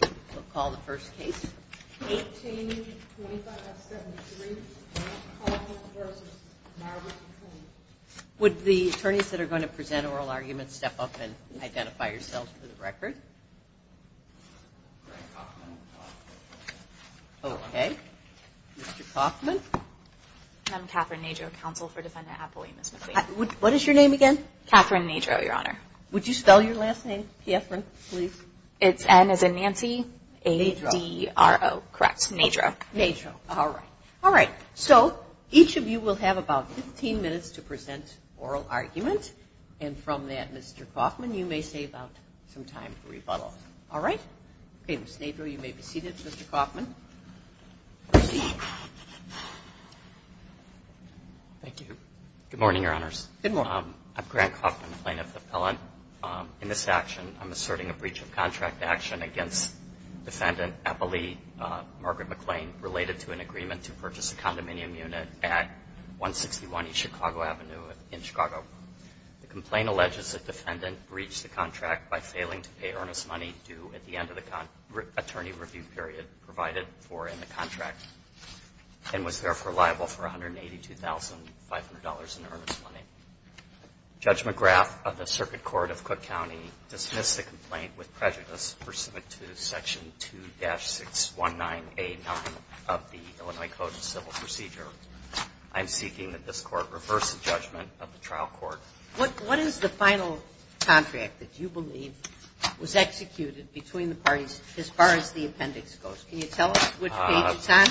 We'll call the first case, 18-25-73, Kaufman v. Margaret Maclean. Would the attorneys that are going to present oral arguments step up and identify yourselves for the record? Okay. Mr. Kaufman? I'm Catherine Najo, counsel for Defendant Apoie, Ms. Maclean. What is your name again? Catherine Najo, Your Honor. Would you spell your last name, Piafran, please? It's N-A-N-C-E-A-D-R-O. Correct. Najo. Najo. All right. All right. So each of you will have about 15 minutes to present oral argument, and from that, Mr. Kaufman, you may save up some time for rebuttal. All right? Okay, Ms. Najo, you may be seated. Mr. Kaufman? Thank you. Good morning, Your Honors. Good morning. I'm Grant Kaufman, plaintiff appellant. In this action, I'm asserting a breach of contract action against Defendant Apoie, Margaret Maclean, related to an agreement to purchase a condominium unit at 161 East Chicago Avenue in Chicago. The complaint alleges the defendant breached the contract by failing to pay earnest money due at the end of the attorney review period provided for in the contract, and was therefore liable for $182,500 in earnest money. Judge McGrath of the Circuit Court of Cook County dismissed the complaint with prejudice pursuant to Section 2-619A9 of the Illinois Code of Civil Procedure. I'm seeking that this Court reverse the judgment of the trial court. What is the final contract that you believe was executed between the parties as far as the appendix goes? Can you tell us which page it's on?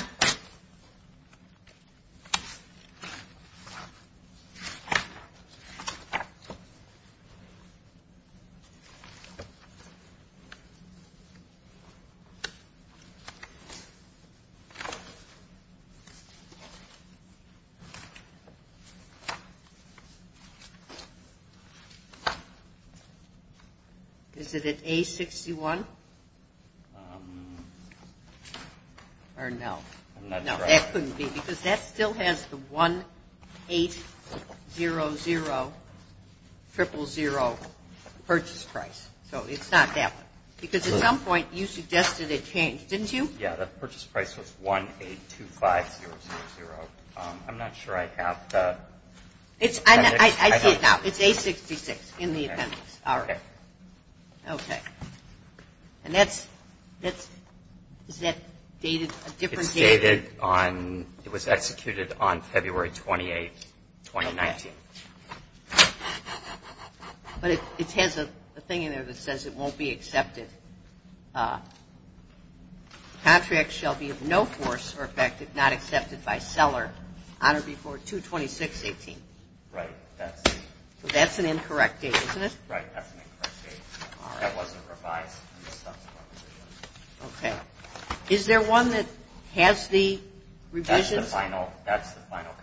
Is it at A61? Or no? No, that couldn't be because that still has the 1-800-000 purchase price. So it's not that one. Because at some point you suggested it changed, didn't you? Yeah, the purchase price was 1-825-000. I'm not sure I have the appendix. I see it now. It's A66 in the appendix. All right. Okay. And that's – is that dated a different date? It's dated on – it was executed on February 28, 2019. Okay. But it has a thing in there that says it won't be accepted. Contract shall be of no force or effect if not accepted by seller on or before 2-26-18. Right. So that's an incorrect date, isn't it? Right. All right. Okay. Is there one that has the revisions? That's the final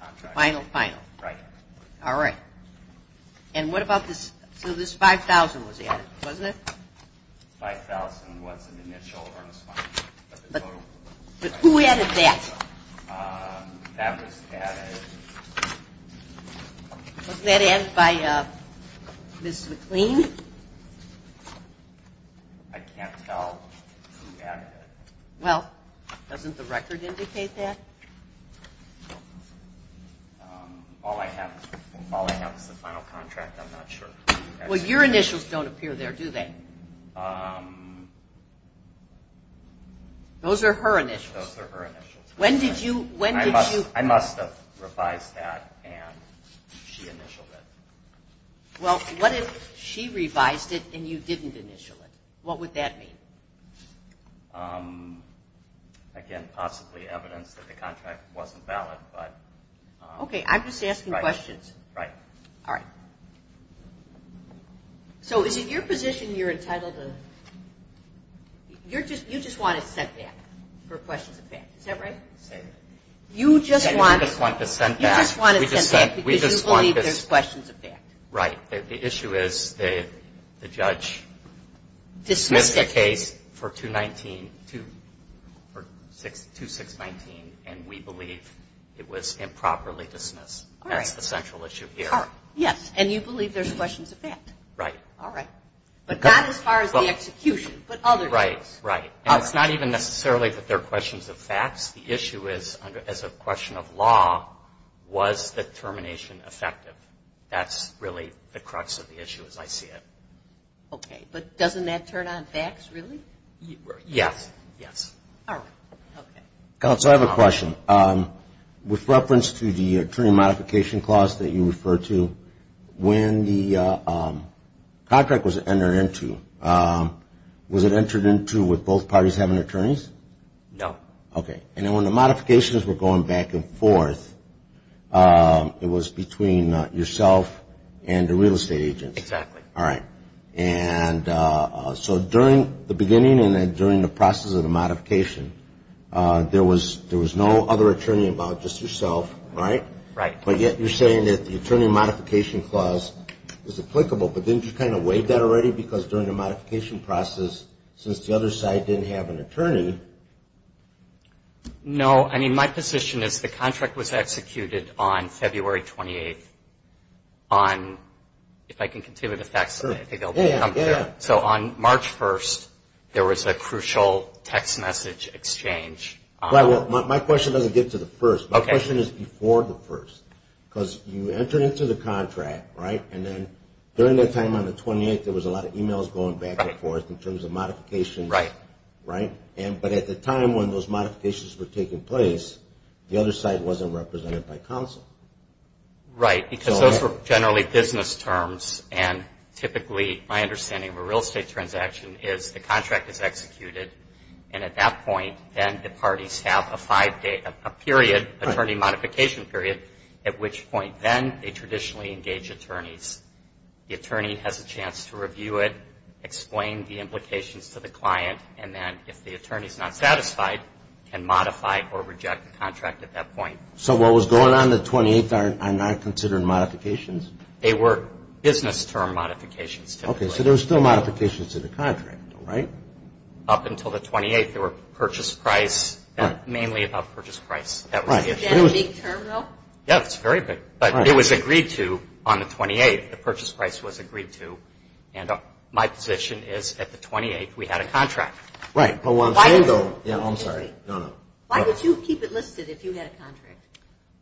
contract. The final final. Right. All right. And what about this – so this 5,000 was added, wasn't it? 5,000 was an initial earnest money. But who added that? That was added. Wasn't that added by Ms. McLean? I can't tell who added it. Well, doesn't the record indicate that? All I have is the final contract. I'm not sure. Well, your initials don't appear there, do they? Those are her initials. Those are her initials. When did you – when did you – I must have revised that and she initialed it. Well, what if she revised it and you didn't initial it? What would that mean? Again, possibly evidence that the contract wasn't valid, but – Okay. I'm just asking questions. Right. All right. So is it your position you're entitled to – you just want it sent back for questions of fact. Is that right? You just want it sent back because you believe there's questions of fact. Right. The issue is the judge dismissed the case for 2-6-19 and we believe it was improperly dismissed. All right. That's the central issue here. Yes. And you believe there's questions of fact. Right. All right. But not as far as the execution, but other things. Right. Right. And it's not even necessarily that there are questions of facts. The issue is, as a question of law, was the termination effective? That's really the crux of the issue as I see it. Okay. But doesn't that turn on facts, really? Yes. Yes. All right. Okay. Counsel, I have a question. With reference to the attorney modification clause that you referred to, when the contract was entered into, was it entered into with both parties having attorneys? No. Okay. And then when the modifications were going back and forth, it was between yourself and the real estate agent. Exactly. All right. And so during the beginning and during the process of the modification, there was no other attorney involved, just yourself. Right? Right. But yet you're saying that the attorney modification clause is applicable, but didn't you kind of waive that already? Because during the modification process, since the other side didn't have an attorney. No. I mean, my position is the contract was executed on February 28th on, if I can continue the facts, I think I'll be comfortable. Sure. Yeah. Yeah. So on March 1st, there was a crucial text message exchange. Well, my question doesn't get to the first. Okay. My question is before the first, because you entered into the contract, right? And then during that time on the 28th, there was a lot of emails going back and forth in terms of modifications. Right. Right? But at the time when those modifications were taking place, the other side wasn't represented by counsel. Right. Because those were generally business terms, and typically my understanding of a real estate transaction is the contract is executed, and at that point, then the parties have a five-day period, attorney modification period, at which point then they traditionally engage attorneys. The attorney has a chance to review it, explain the implications to the client, and then if the attorney is not satisfied, can modify or reject the contract at that point. So what was going on the 28th are not considered modifications? They were business term modifications, typically. Okay. So there were still modifications to the contract, right? Up until the 28th, they were purchase price, mainly about purchase price. That was the issue. Is that a big term, though? Yeah, it's very big. But it was agreed to on the 28th. The purchase price was agreed to, and my position is at the 28th, we had a contract. Right. I'm sorry. No, no. Why would you keep it listed if you had a contract?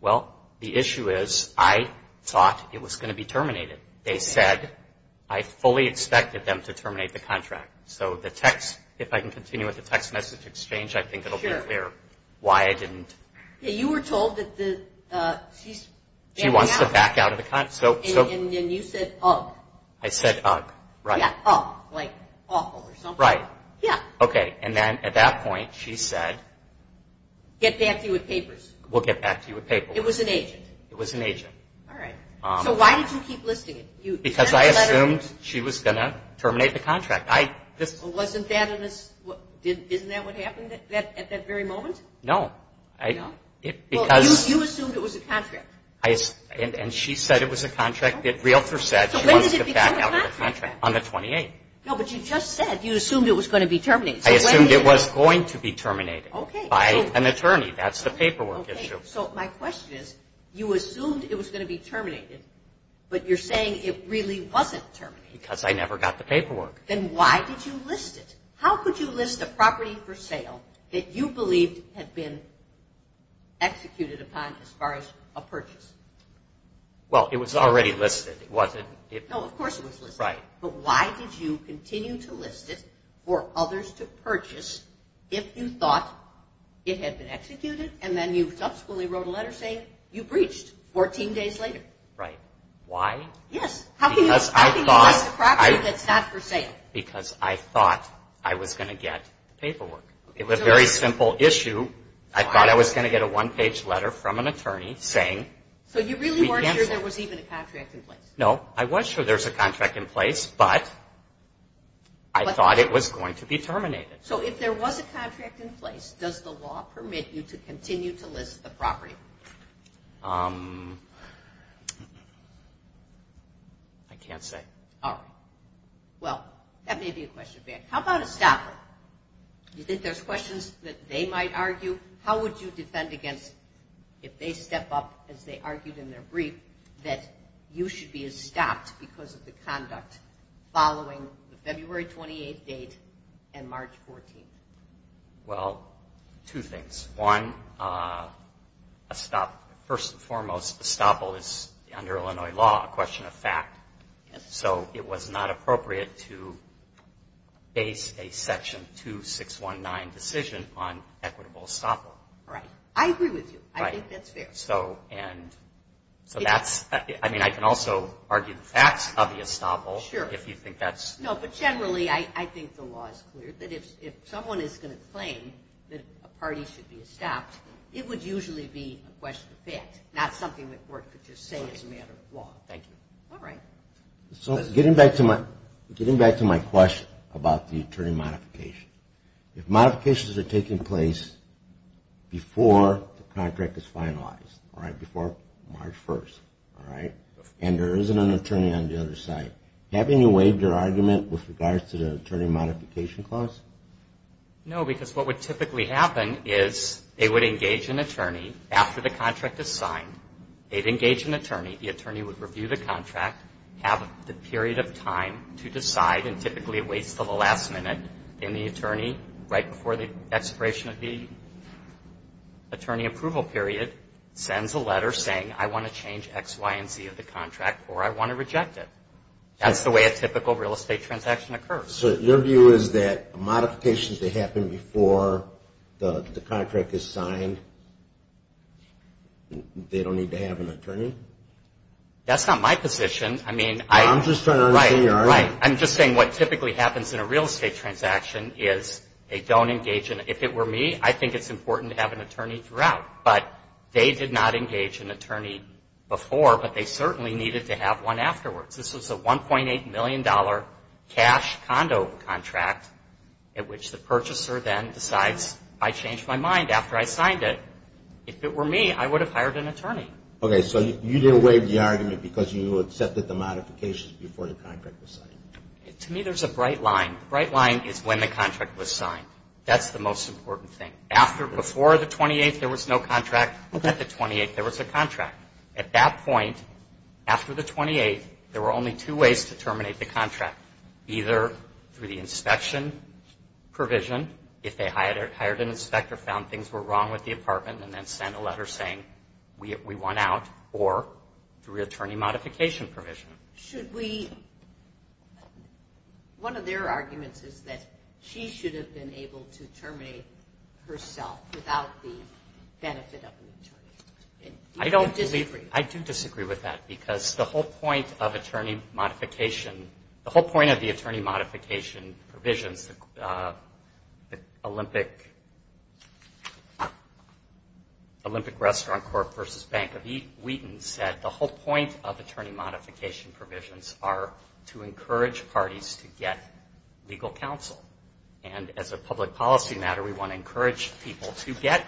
Well, the issue is I thought it was going to be terminated. They said I fully expected them to terminate the contract. So the text, if I can continue with the text message exchange, I think it will be clear why I didn't. Okay. You were told that she's backing out. She wants to back out of the contract. And you said ugh. I said ugh, right. Yeah, ugh, like awful or something. Right. Yeah. Okay. And then at that point, she said. Get back to you with papers. We'll get back to you with papers. It was an agent. It was an agent. All right. So why did you keep listing it? Because I assumed she was going to terminate the contract. Wasn't that what happened at that very moment? No. No? You assumed it was a contract. And she said it was a contract. Realtor said she wanted to get back out of the contract. So when did it become a contract? On the 28th. No, but you just said you assumed it was going to be terminated. I assumed it was going to be terminated. Okay. By an attorney. That's the paperwork issue. Okay. So my question is you assumed it was going to be terminated, but you're saying it really wasn't terminated. Because I never got the paperwork. Then why did you list it? How could you list a property for sale that you believed had been executed upon as far as a purchase? Well, it was already listed. It wasn't. No, of course it was listed. Right. But why did you continue to list it for others to purchase if you thought it had been executed and then you subsequently wrote a letter saying you breached 14 days later? Right. Why? Yes. How can you list a property that's not for sale? Because I thought I was going to get the paperwork. It was a very simple issue. I thought I was going to get a one-page letter from an attorney saying we cancelled it. So you really weren't sure there was even a contract in place? No. I was sure there was a contract in place, but I thought it was going to be terminated. So if there was a contract in place, does the law permit you to continue to list the property? I can't say. All right. Well, that may be a question for you. How about a stopper? Do you think there's questions that they might argue? How would you defend against if they step up, as they argued in their brief, that you should be stopped because of the conduct following the February 28th date and March 14th? Well, two things. One, first and foremost, a stopper is, under Illinois law, a question of fact. So it was not appropriate to base a Section 2619 decision on equitable stopper. Right. I agree with you. I think that's fair. So that's – I mean, I can also argue the facts of the estoppel if you think that's – Sure. No, but generally, I think the law is clear that if someone is going to claim that a party should be stopped, it would usually be a question of fact, not something the court could just say is a matter of law. Thank you. All right. So getting back to my question about the attorney modification, if modifications are taking place before the contract is finalized, all right, before March 1st, all right, and there isn't an attorney on the other side, have you waived your argument with regards to the attorney modification clause? No, because what would typically happen is they would engage an attorney after the contract is signed. They'd engage an attorney. The attorney would review the contract, have the period of time to decide, and typically it waits until the last minute. Then the attorney, right before the expiration of the attorney approval period, sends a letter saying, I want to change X, Y, and Z of the contract, or I want to reject it. That's the way a typical real estate transaction occurs. So your view is that modifications that happen before the contract is signed, they don't need to have an attorney? That's not my position. I'm just trying to understand your argument. Right. I'm just saying what typically happens in a real estate transaction is they don't engage an attorney. If it were me, I think it's important to have an attorney throughout. But they did not engage an attorney before, but they certainly needed to have one afterwards. This was a $1.8 million cash condo contract at which the purchaser then decides, I changed my mind after I signed it. Okay, so you didn't waive the argument because you accepted the modifications before the contract was signed. To me, there's a bright line. The bright line is when the contract was signed. That's the most important thing. Before the 28th, there was no contract. At the 28th, there was a contract. At that point, after the 28th, there were only two ways to terminate the contract. Either through the inspection provision, if they hired an inspector, found things were wrong with the apartment, and then sent a letter saying we want out, or through attorney modification provision. One of their arguments is that she should have been able to terminate herself without the benefit of an attorney. Do you disagree? I do disagree with that because the whole point of attorney modification, the whole point of the attorney modification provisions, the Olympic Restaurant Corp. versus Bank of Wheaton said the whole point of attorney modification provisions are to encourage parties to get legal counsel. And as a public policy matter, we want to encourage people to get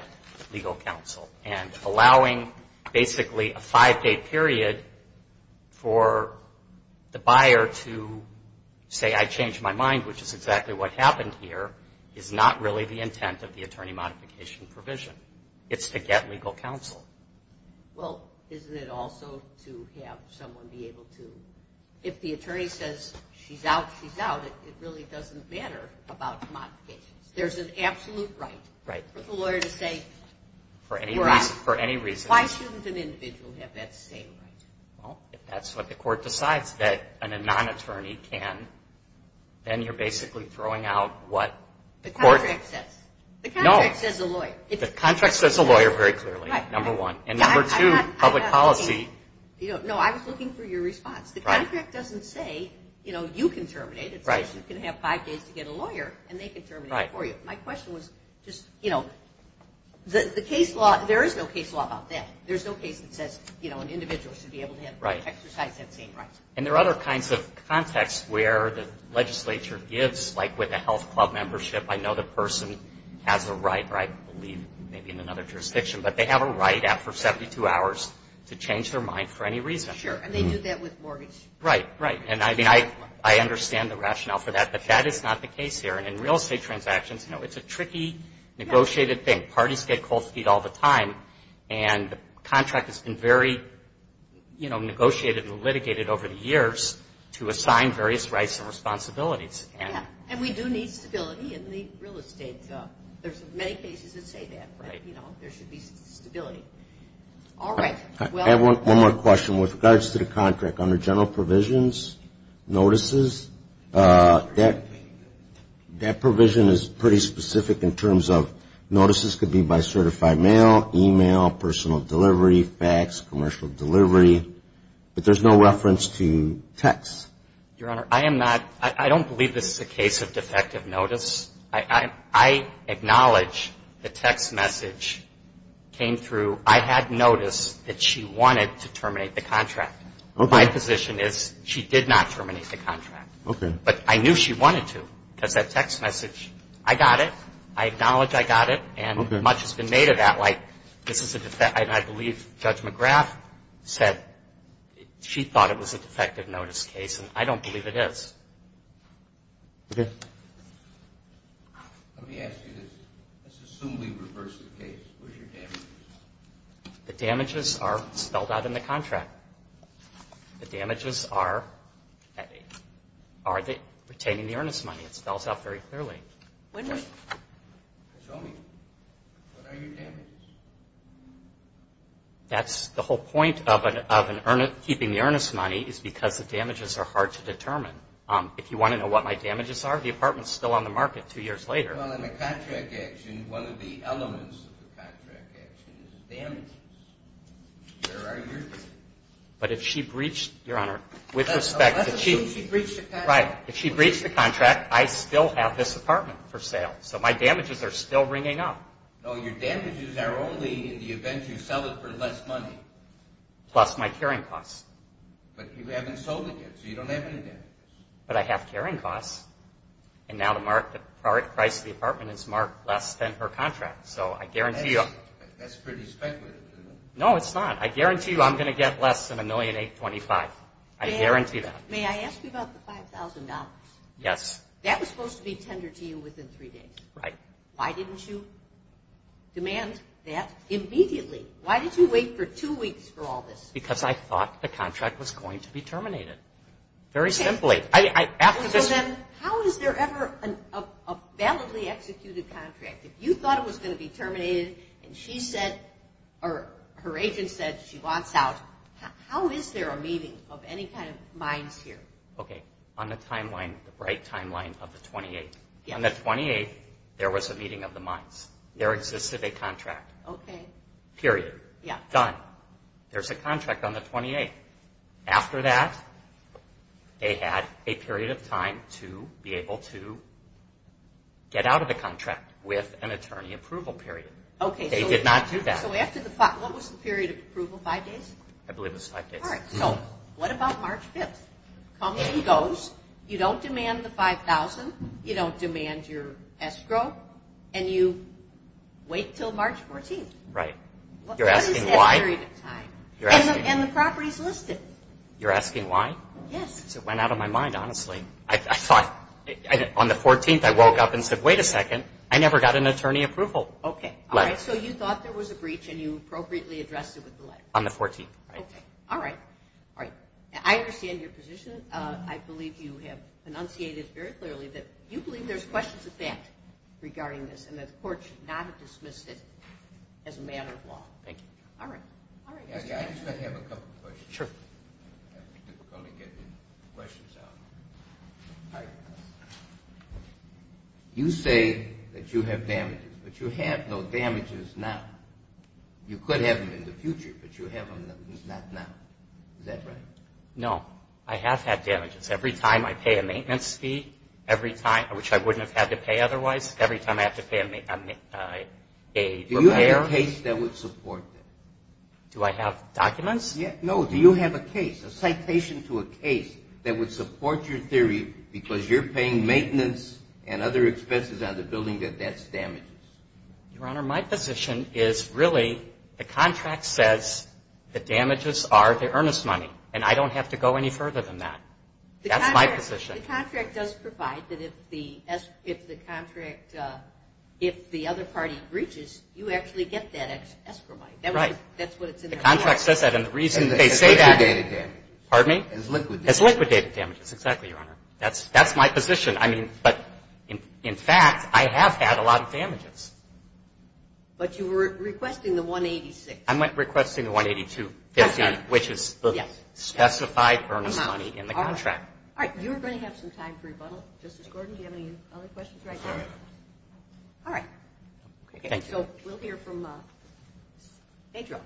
legal counsel. And allowing basically a five-day period for the buyer to say I changed my mind, which is exactly what happened here, is not really the intent of the attorney modification provision. It's to get legal counsel. Well, isn't it also to have someone be able to, if the attorney says she's out, she's out, it really doesn't matter about modifications. There's an absolute right for the lawyer to say. You're right. For any reason. Why shouldn't an individual have that same right? Well, if that's what the court decides that a non-attorney can, then you're basically throwing out what the court. The contract says. No. The contract says the lawyer. The contract says the lawyer very clearly, number one. And number two, public policy. No, I was looking for your response. The contract doesn't say, you know, you can terminate it. It says you can have five days to get a lawyer and they can terminate it for you. My question was just, you know, the case law, there is no case law about that. There's no case that says, you know, an individual should be able to exercise that same right. And there are other kinds of contexts where the legislature gives, like with the health club membership, I know the person has a right, or I believe maybe in another jurisdiction, but they have a right after 72 hours to change their mind for any reason. Sure. And they do that with mortgage. Right, right. And I mean, I understand the rationale for that, but that is not the case here. And in real estate transactions, you know, it's a tricky, negotiated thing. Parties get cold feet all the time. And the contract has been very, you know, negotiated and litigated over the years to assign various rights and responsibilities. Yeah. And we do need stability in the real estate job. There's many cases that say that. Right. You know, there should be stability. All right. I have one more question. With regards to the contract, under general provisions, notices, that provision is pretty specific in terms of notices could be by certified mail, e-mail, personal delivery, fax, commercial delivery. But there's no reference to texts. Your Honor, I am not, I don't believe this is a case of defective notice. I acknowledge the text message came through, I had noticed that she wanted to terminate the contract. Okay. My position is she did not terminate the contract. Okay. But I knew she wanted to because that text message, I got it. I acknowledge I got it. Okay. And much has been made of that. Like, this is a, and I believe Judge McGrath said she thought it was a defective notice case, and I don't believe it is. Okay. Let me ask you this. Let's assume we reverse the case. Where's your damages? The damages are spelled out in the contract. The damages are retaining the earnest money. It spells out very clearly. Show me. What are your damages? That's the whole point of keeping the earnest money is because the damages are hard to determine. If you want to know what my damages are, the apartment is still on the market two years later. Well, in the contract action, one of the elements of the contract action is damages. Where are your damages? But if she breached, Your Honor, with respect to Chief. Let's assume she breached the contract. Right. If she breached the contract, I still have this apartment for sale. So my damages are still ringing up. No, your damages are only in the event you sell it for less money. Plus my carrying costs. But you haven't sold it yet, so you don't have any damages. But I have carrying costs. And now the price of the apartment is marked less than her contract. So I guarantee you. That's pretty speculative, isn't it? No, it's not. I guarantee you I'm going to get less than $1,825,000. I guarantee that. May I ask you about the $5,000? Yes. That was supposed to be tendered to you within three days. Right. Why didn't you demand that immediately? Why did you wait for two weeks for all this? Because I thought the contract was going to be terminated. Very simply. How is there ever a validly executed contract? If you thought it was going to be terminated and her agent said she wants out, how is there a meeting of any kind of minds here? Okay. On the timeline, the bright timeline of the 28th. On the 28th, there was a meeting of the minds. There existed a contract. Okay. Period. Done. There's a contract on the 28th. After that, they had a period of time to be able to get out of the contract with an attorney approval period. Okay. They did not do that. What was the period of approval? Five days? I believe it was five days. All right. What about March 5th? Company goes. You don't demand the $5,000. You don't demand your escrow. And you wait until March 14th. Right. You're asking why? What is that period of time? And the property is listed. You're asking why? Yes. Because it went out of my mind, honestly. I thought on the 14th, I woke up and said, wait a second, I never got an attorney approval. Okay. All right. So you thought there was a breach and you appropriately addressed it with the letter? On the 14th. Okay. All right. All right. I understand your position. I believe you have enunciated very clearly that you believe there's questions of fact regarding this and that the court should not have dismissed it as a matter of law. Thank you. All right. All right. I just have a couple questions. Sure. Let me get the questions out. All right. You say that you have damages, but you have no damages now. You could have them in the future, but you have them not now. Is that right? No. I have had damages. Every time I pay a maintenance fee, which I wouldn't have had to pay otherwise, every time I have to pay a repair. Do you have a case that would support that? Do I have documents? No. Do you have a case, a citation to a case that would support your theory because you're paying maintenance and other expenses on the building that that's damages? Your Honor, my position is really the contract says the damages are the earnest money, and I don't have to go any further than that. That's my position. The contract does provide that if the contract, if the other party breaches, you actually get that extra money. Right. That's what it says in the contract. The contract says that, and the reason they say that is liquidated damages. Exactly, Your Honor. That's my position. I mean, but in fact, I have had a lot of damages. But you were requesting the 186. I'm requesting the 182.15, which is the specified earnest money in the contract. All right. You're going to have some time for rebuttal. Justice Gordon, do you have any other questions right now? All right. Thank you. So we'll hear from Pedro.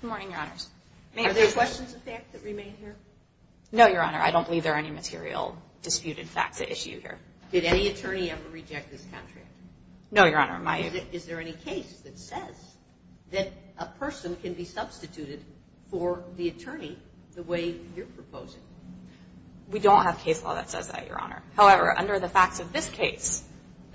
Good morning, Your Honors. Are there questions of fact that remain here? No, Your Honor. I don't believe there are any material disputed facts at issue here. Did any attorney ever reject this contract? No, Your Honor. Is there any case that says that a person can be substituted for the attorney the way you're proposing? We don't have case law that says that, Your Honor. However, under the facts of this case,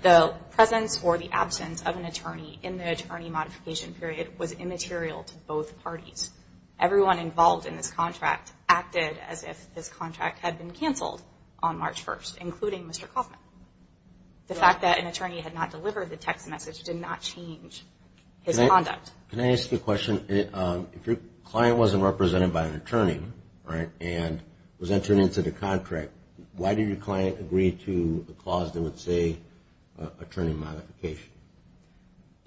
the presence or the absence of an attorney in the attorney modification period was immaterial to both parties. Everyone involved in this contract acted as if this contract had been canceled on March 1st, including Mr. Kaufman. The fact that an attorney had not delivered the text message did not change his conduct. Can I ask you a question? If your client wasn't represented by an attorney, right, and was entered into the contract, why did your client agree to a clause that would say attorney modification?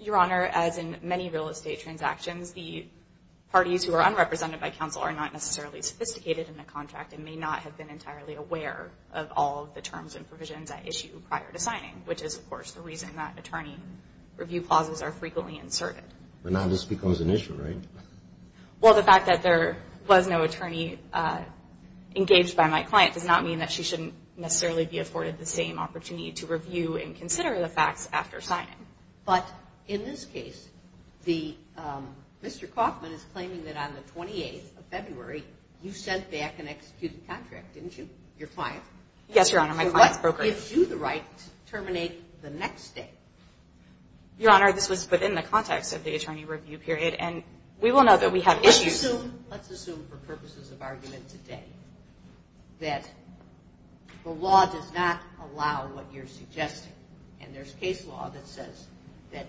Your Honor, as in many real estate transactions, the parties who are unrepresented by counsel are not necessarily sophisticated in the contract and may not have been entirely aware of all of the terms and provisions at issue prior to signing, which is, of course, the reason that attorney review clauses are frequently inserted. But now this becomes an issue, right? Well, the fact that there was no attorney engaged by my client does not mean that she shouldn't necessarily be afforded the same opportunity to review and consider the facts after signing. But in this case, Mr. Kaufman is claiming that on the 28th of February, you sent back an executed contract, didn't you, your client? Yes, Your Honor. My client's brokerage. What gives you the right to terminate the next day? Your Honor, this was within the context of the attorney review period, and we will know that we have issues. Let's assume for purposes of argument today that the law does not allow what you're suggesting, and there's case law that says that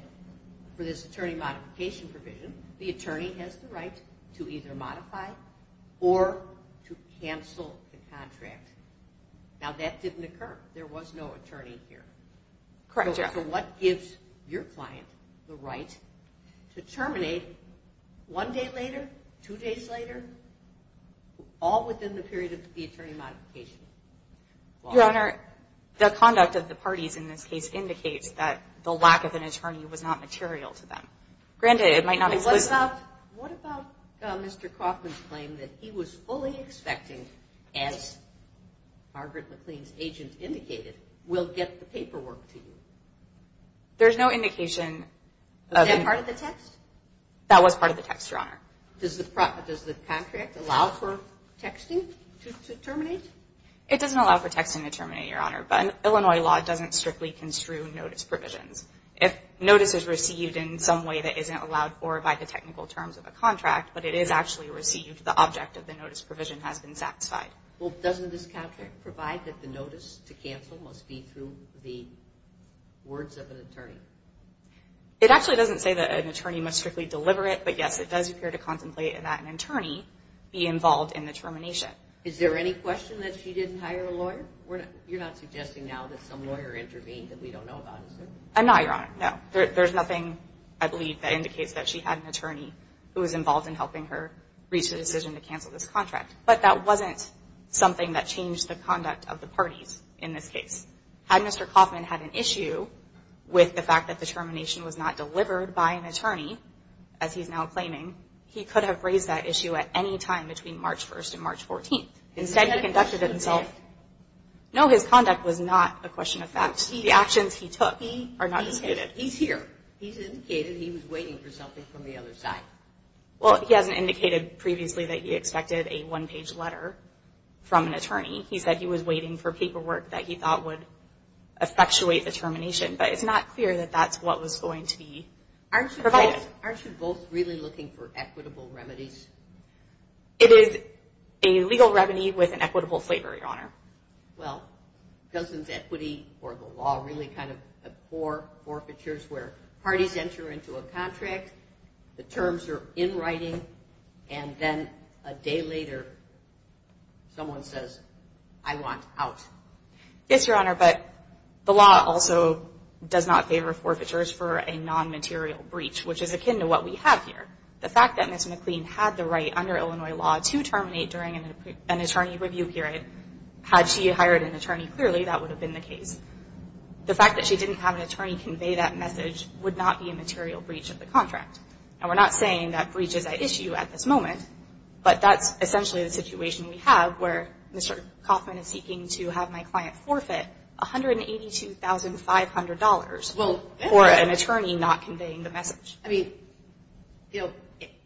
for this attorney modification provision, the attorney has the right to either modify or to cancel the contract. Now, that didn't occur. There was no attorney here. Correct, Your Honor. So what gives your client the right to terminate one day later, two days later, all within the period of the attorney modification? Your Honor, the conduct of the parties in this case indicates that the lack of an attorney was not material to them. Granted, it might not exist. What about Mr. Kaufman's claim that he was fully expecting, as Margaret McLean's agent indicated, we'll get the paperwork to you? There's no indication. Is that part of the text? That was part of the text, Your Honor. Does the contract allow for texting to terminate? It doesn't allow for texting to terminate, Your Honor, but Illinois law doesn't strictly construe notice provisions. If notice is received in some way that isn't allowed or by the technical terms of a contract, but it is actually received, the object of the notice provision has been satisfied. Well, doesn't this contract provide that the notice to cancel must be through the words of an attorney? It actually doesn't say that an attorney must strictly deliver it, but, yes, it does appear to contemplate that an attorney be involved in the termination. Is there any question that she didn't hire a lawyer? You're not suggesting now that some lawyer intervened that we don't know about, is there? I'm not, Your Honor, no. There's nothing, I believe, that indicates that she had an attorney who was involved in helping her reach the decision to cancel this contract. But that wasn't something that changed the conduct of the parties in this case. Had Mr. Kaufman had an issue with the fact that the termination was not delivered by an attorney, as he's now claiming, he could have raised that issue at any time between March 1st and March 14th. Instead, he conducted it himself. No, his conduct was not a question of facts. The actions he took are not as stated. He's here. He's indicated he was waiting for something from the other side. Well, he hasn't indicated previously that he expected a one-page letter from an attorney. He said he was waiting for paperwork that he thought would effectuate the termination. But it's not clear that that's what was going to be provided. Aren't you both really looking for equitable remedies? It is a legal remedy with an equitable flavor, Your Honor. Well, doesn't equity or the law really kind of have poor forfeitures where parties enter into a contract, the terms are in writing, and then a day later someone says, I want out? Yes, Your Honor. But the law also does not favor forfeitures for a non-material breach, which is akin to what we have here. The fact that Ms. McLean had the right under Illinois law to terminate during an attorney review period, had she hired an attorney clearly, that would have been the case. The fact that she didn't have an attorney convey that message would not be a material breach of the contract. And we're not saying that breach is at issue at this moment, but that's essentially the situation we have where Mr. Kaufman is seeking to have my client forfeit $182,500 for an attorney not conveying the message. I mean, you know,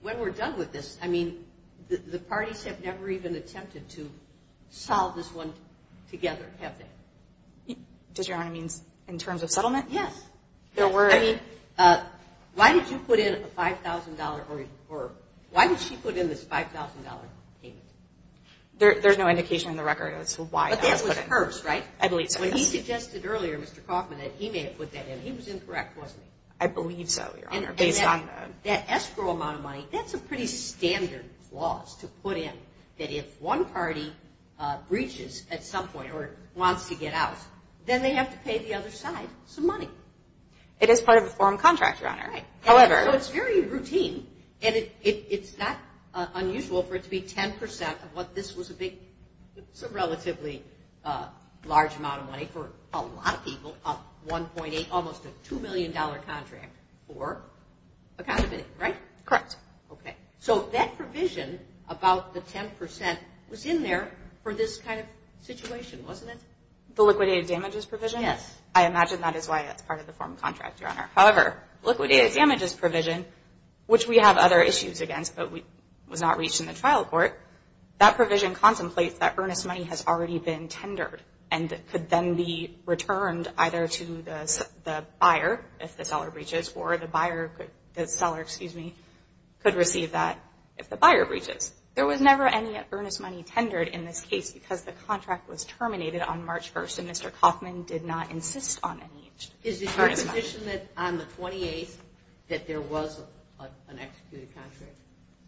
when we're done with this, I mean, the parties have never even attempted to solve this one together, have they? Does Your Honor mean in terms of settlement? Yes. I mean, why did you put in a $5,000 or why did she put in this $5,000 payment? There's no indication in the record as to why. But that was hers, right? I believe so, yes. When he suggested earlier, Mr. Kaufman, that he may have put that in, he was incorrect, wasn't he? I believe so, Your Honor, based on the – And that escrow amount of money, that's a pretty standard clause to put in, that if one party breaches at some point or wants to get out, then they have to pay the other side some money. It is part of the foreign contract, Your Honor. However – So it's very routine, and it's not unusual for it to be 10 percent of what this was a big – it's a relatively large amount of money for a lot of people, almost a $2 million contract for a condominium, right? Correct. Okay. So that provision about the 10 percent was in there for this kind of situation, wasn't it? The liquidated damages provision? Yes. I imagine that is why that's part of the foreign contract, Your Honor. However, liquidated damages provision, which we have other issues against but was not reached in the trial court, that provision contemplates that earnest either to the buyer if the seller breaches or the buyer – the seller, excuse me, could receive that if the buyer breaches. There was never any earnest money tendered in this case because the contract was terminated on March 1st, and Mr. Kauffman did not insist on any earnest money. Is it your position that on the 28th that there was an executed contract?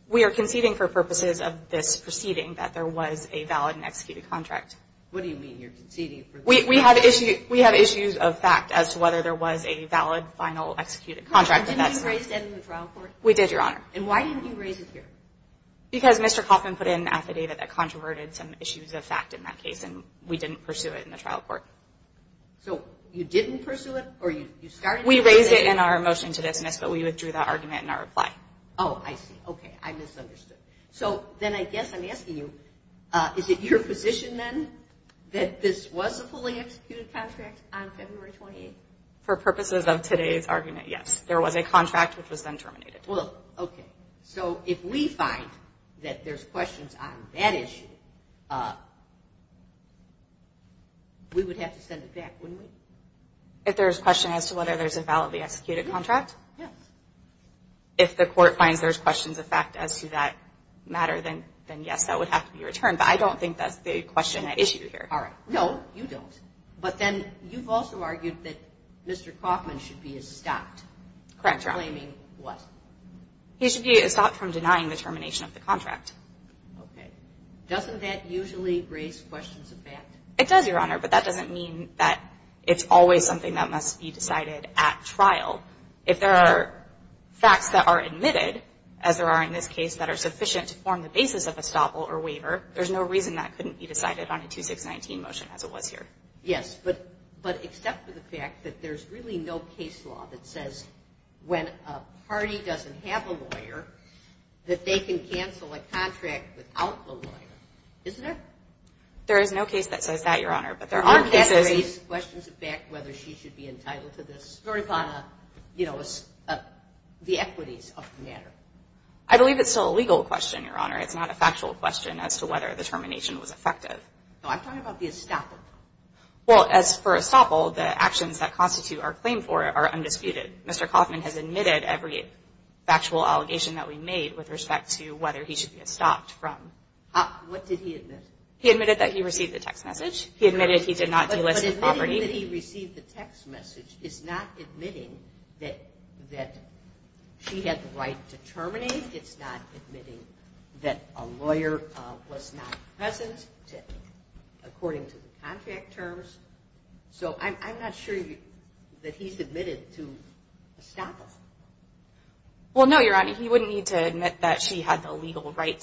We are conceding for purposes of this proceeding that there was a valid and executed contract. What do you mean you're conceding? We have issues of fact as to whether there was a valid, final, executed contract. Didn't you raise that in the trial court? We did, Your Honor. And why didn't you raise it here? Because Mr. Kauffman put in affidavit that controverted some issues of fact in that case, and we didn't pursue it in the trial court. So you didn't pursue it or you started it? We raised it in our motion to dismiss, but we withdrew that argument in our reply. Oh, I see. Okay. I misunderstood. So then I guess I'm asking you, is it your position, then, that this was a fully executed contract on February 28th? For purposes of today's argument, yes. There was a contract which was then terminated. Well, okay. So if we find that there's questions on that issue, we would have to send it back, wouldn't we? If there's a question as to whether there's a validly executed contract? Yes. If the court finds there's questions of fact as to that matter, then yes, that would have to be returned. But I don't think that's the question at issue here. All right. No, you don't. But then you've also argued that Mr. Kauffman should be stopped. Correct, Your Honor. Claiming what? He should be stopped from denying the termination of the contract. Okay. Doesn't that usually raise questions of fact? It does, Your Honor, but that doesn't mean that it's always something that must be decided at trial. If there are facts that are admitted, as there are in this case that are sufficient to form the basis of a stop or waiver, there's no reason that couldn't be decided on a 2619 motion as it was here. Yes. But except for the fact that there's really no case law that says when a party doesn't have a lawyer that they can cancel a contract without the lawyer, isn't there? There is no case that says that, Your Honor. But there are cases. Doesn't that raise questions of fact whether she should be entitled to this very kind of, you know, the equities of the matter? I believe it's still a legal question, Your Honor. It's not a factual question as to whether the termination was effective. No, I'm talking about the estoppel. Well, as for estoppel, the actions that constitute our claim for it are undisputed. Mr. Kauffman has admitted every factual allegation that we made with respect to whether he should be stopped from. What did he admit? He admitted that he received the text message. He admitted he did not delist the property. But admitting that he received the text message is not admitting that she had the right to terminate. It's not admitting that a lawyer was not present according to the contract terms. So I'm not sure that he's admitted to estoppel. Well, no, Your Honor. He wouldn't need to admit that she had the legal right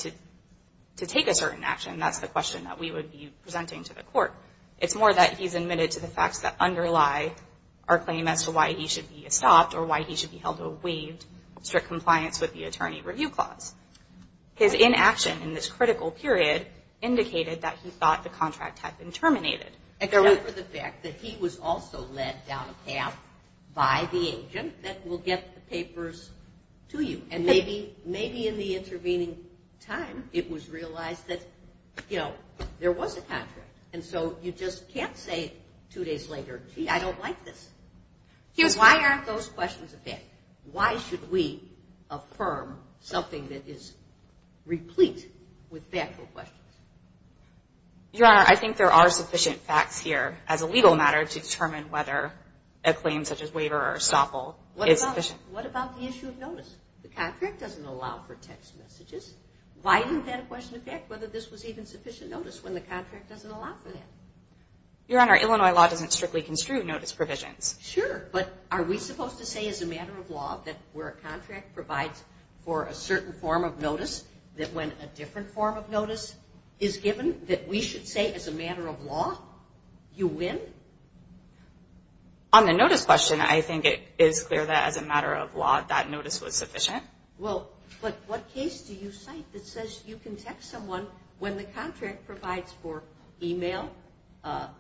to take a certain action. That's the question that we would be presenting to the court. It's more that he's admitted to the facts that underlie our claim as to why he should be stopped or why he should be held to a waived strict compliance with the attorney review clause. His inaction in this critical period indicated that he thought the contract had been terminated. Except for the fact that he was also led down a path by the agent that will get the papers to you. And maybe in the intervening time it was realized that, you know, there was a contract. And so you just can't say two days later, gee, I don't like this. Why aren't those questions? Why should we affirm something that is replete with factual questions? Your Honor, I think there are sufficient facts here as a legal matter to determine whether a claim such as waiver or estoppel is sufficient. What about the issue of notice? The contract doesn't allow for text messages. Why didn't that question affect whether this was even sufficient notice when the contract doesn't allow for that? Your Honor, Illinois law doesn't strictly construe notice provisions. Sure, but are we supposed to say as a matter of law that where a contract provides for a certain form of notice that when a different form of notice is given that we should say as a matter of law you win? On the notice question, I think it is clear that as a matter of law that notice was sufficient. Well, but what case do you cite that says you can text someone when the contract provides for e-mail?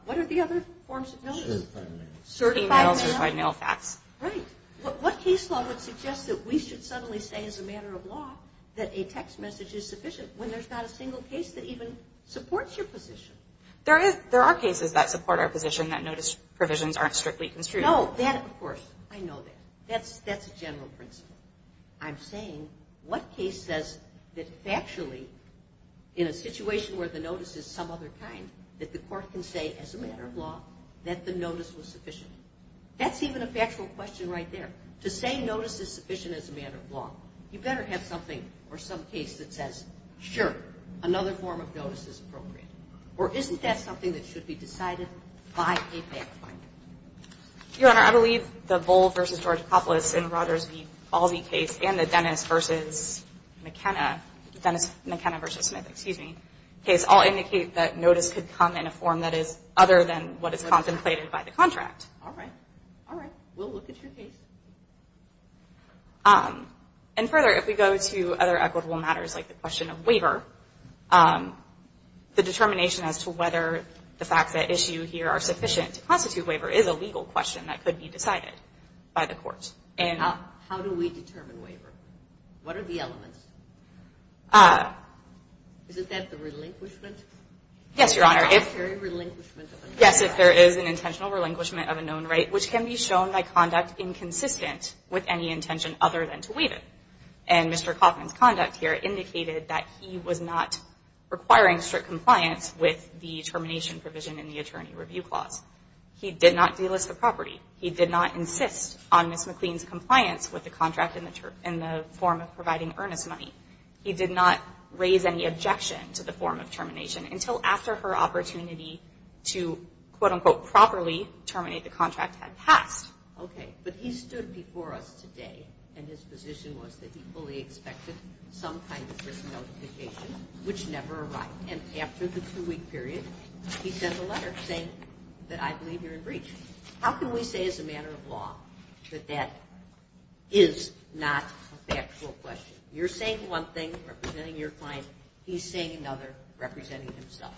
What are the other forms of notice? Certified mail. Certified mail. Certified mail facts. Right. What case law would suggest that we should suddenly say as a matter of law that a text message is sufficient when there's not a single case that even supports your position? There are cases that support our position that notice provisions aren't strictly construed. No, that, of course, I know that. That's a general principle. I'm saying what case says that factually in a situation where the notice is some other kind that the court can say as a matter of law that the notice was sufficient? That's even a factual question right there. To say notice is sufficient as a matter of law, you better have something or some case that says, sure, another form of notice is appropriate. Or isn't that something that should be decided by a fact finder? Your Honor, I believe the Bull v. George Coppolis and Rogers v. Balzi case and the Dennis v. McKenna, Dennis McKenna v. Smith, excuse me, case all indicate that notice could come in a form that is other than what is contemplated by the contract. All right. All right. We'll look at your case. And further, if we go to other equitable matters like the question of waiver, the determination as to whether the facts at issue here are sufficient to constitute waiver is a legal question that could be decided by the court. How do we determine waiver? What are the elements? Isn't that the relinquishment? Yes, Your Honor. The voluntary relinquishment of a known right. Yes, if there is an intentional relinquishment of a known right, which can be any intention other than to waive it. And Mr. Kaufman's conduct here indicated that he was not requiring strict compliance with the termination provision in the attorney review clause. He did not delist the property. He did not insist on Ms. McLean's compliance with the contract in the form of providing earnest money. He did not raise any objection to the form of termination until after her opportunity to, quote, unquote, properly terminate the contract had passed. Okay. But he stood before us today and his position was that he fully expected some kind of risk notification, which never arrived. And after the two-week period, he sent a letter saying that I believe you're in breach. How can we say as a matter of law that that is not a factual question? You're saying one thing representing your client. He's saying another representing himself.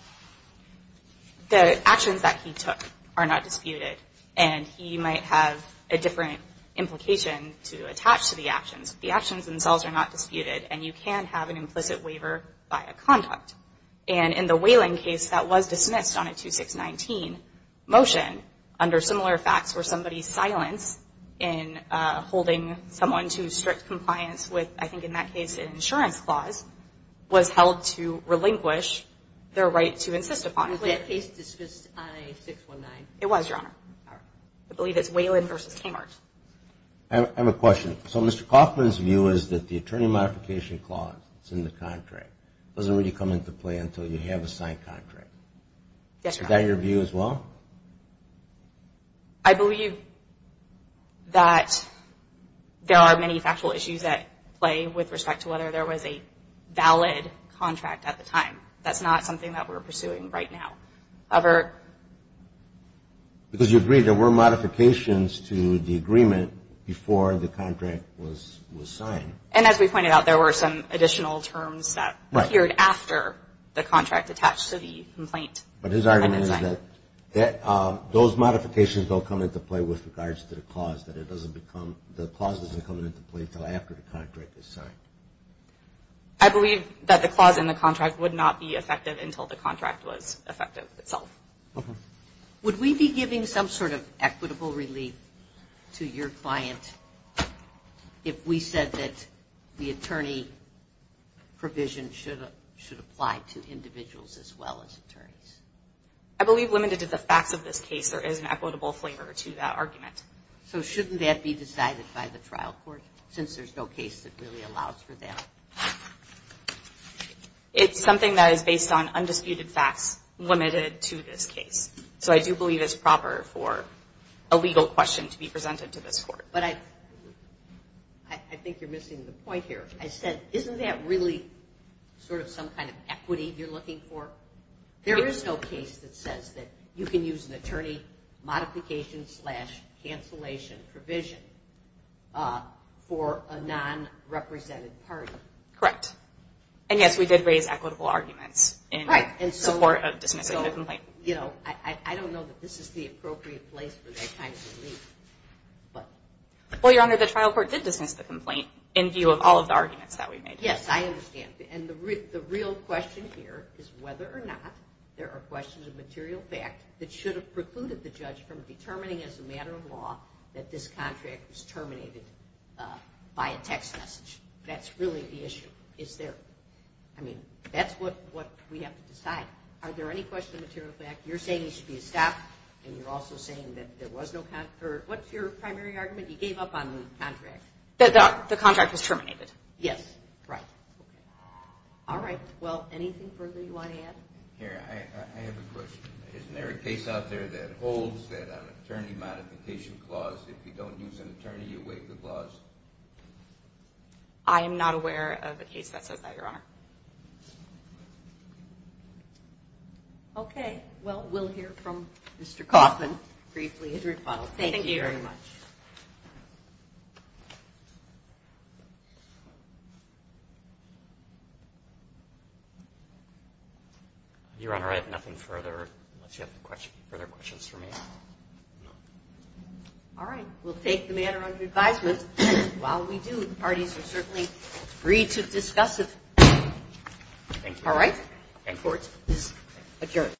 The actions that he took are not disputed. And he might have a different implication to attach to the actions. The actions themselves are not disputed. And you can have an implicit waiver by a conduct. And in the Wayland case, that was dismissed on a 2619 motion under similar facts where somebody's silence in holding someone to strict compliance with, I think in that case, an insurance clause, was held to relinquish their right to insist upon it. Was that case dismissed on a 619? It was, Your Honor. I believe it's Wayland versus Kmart. I have a question. So Mr. Kaufman's view is that the attorney modification clause that's in the contract doesn't really come into play until you have a signed contract. Yes, Your Honor. Is that your view as well? I believe that there are many factual issues at play with respect to whether there was a valid contract at the time. That's not something that we're pursuing right now. Because you agree there were modifications to the agreement before the contract was signed. And as we pointed out, there were some additional terms that appeared after the contract attached to the complaint. But his argument is that those modifications don't come into play with regards to the clause, that it doesn't become the clause doesn't come into play until after the contract is signed. I believe that the clause in the contract would not be effective until the Would we be giving some sort of equitable relief to your client if we said that the attorney provision should apply to individuals as well as attorneys? I believe limited to the facts of this case there is an equitable flavor to that argument. So shouldn't that be decided by the trial court since there's no case that really allows for that? It's something that is based on undisputed facts limited to this case. So I do believe it's proper for a legal question to be presented to this court. But I think you're missing the point here. I said, isn't that really sort of some kind of equity you're looking for? There is no case that says that you can use an attorney modification slash And, yes, we did raise equitable arguments in support of dismissing the complaint. I don't know that this is the appropriate place for that kind of relief. Well, Your Honor, the trial court did dismiss the complaint in view of all of the arguments that we made. Yes, I understand. And the real question here is whether or not there are questions of material fact that should have precluded the judge from determining as a matter of law that this contract was terminated by a text message. That's really the issue. Is there? I mean, that's what we have to decide. Are there any questions of material fact? You're saying there should be a stop, and you're also saying that there was no What's your primary argument? You gave up on the contract. The contract was terminated. Yes. Right. All right. Well, anything further you want to add? Here, I have a question. Isn't there a case out there that holds that an attorney modification clause, if you don't use an attorney, you waive the clause? I am not aware of a case that says that, Your Honor. Okay. Well, we'll hear from Mr. Kaufman briefly as a rebuttal. Thank you very much. Your Honor, I have nothing further, unless you have further questions for me. No. All right. We'll take the matter under advisement. While we do, the parties are certainly free to discuss it. All right. Court is adjourned.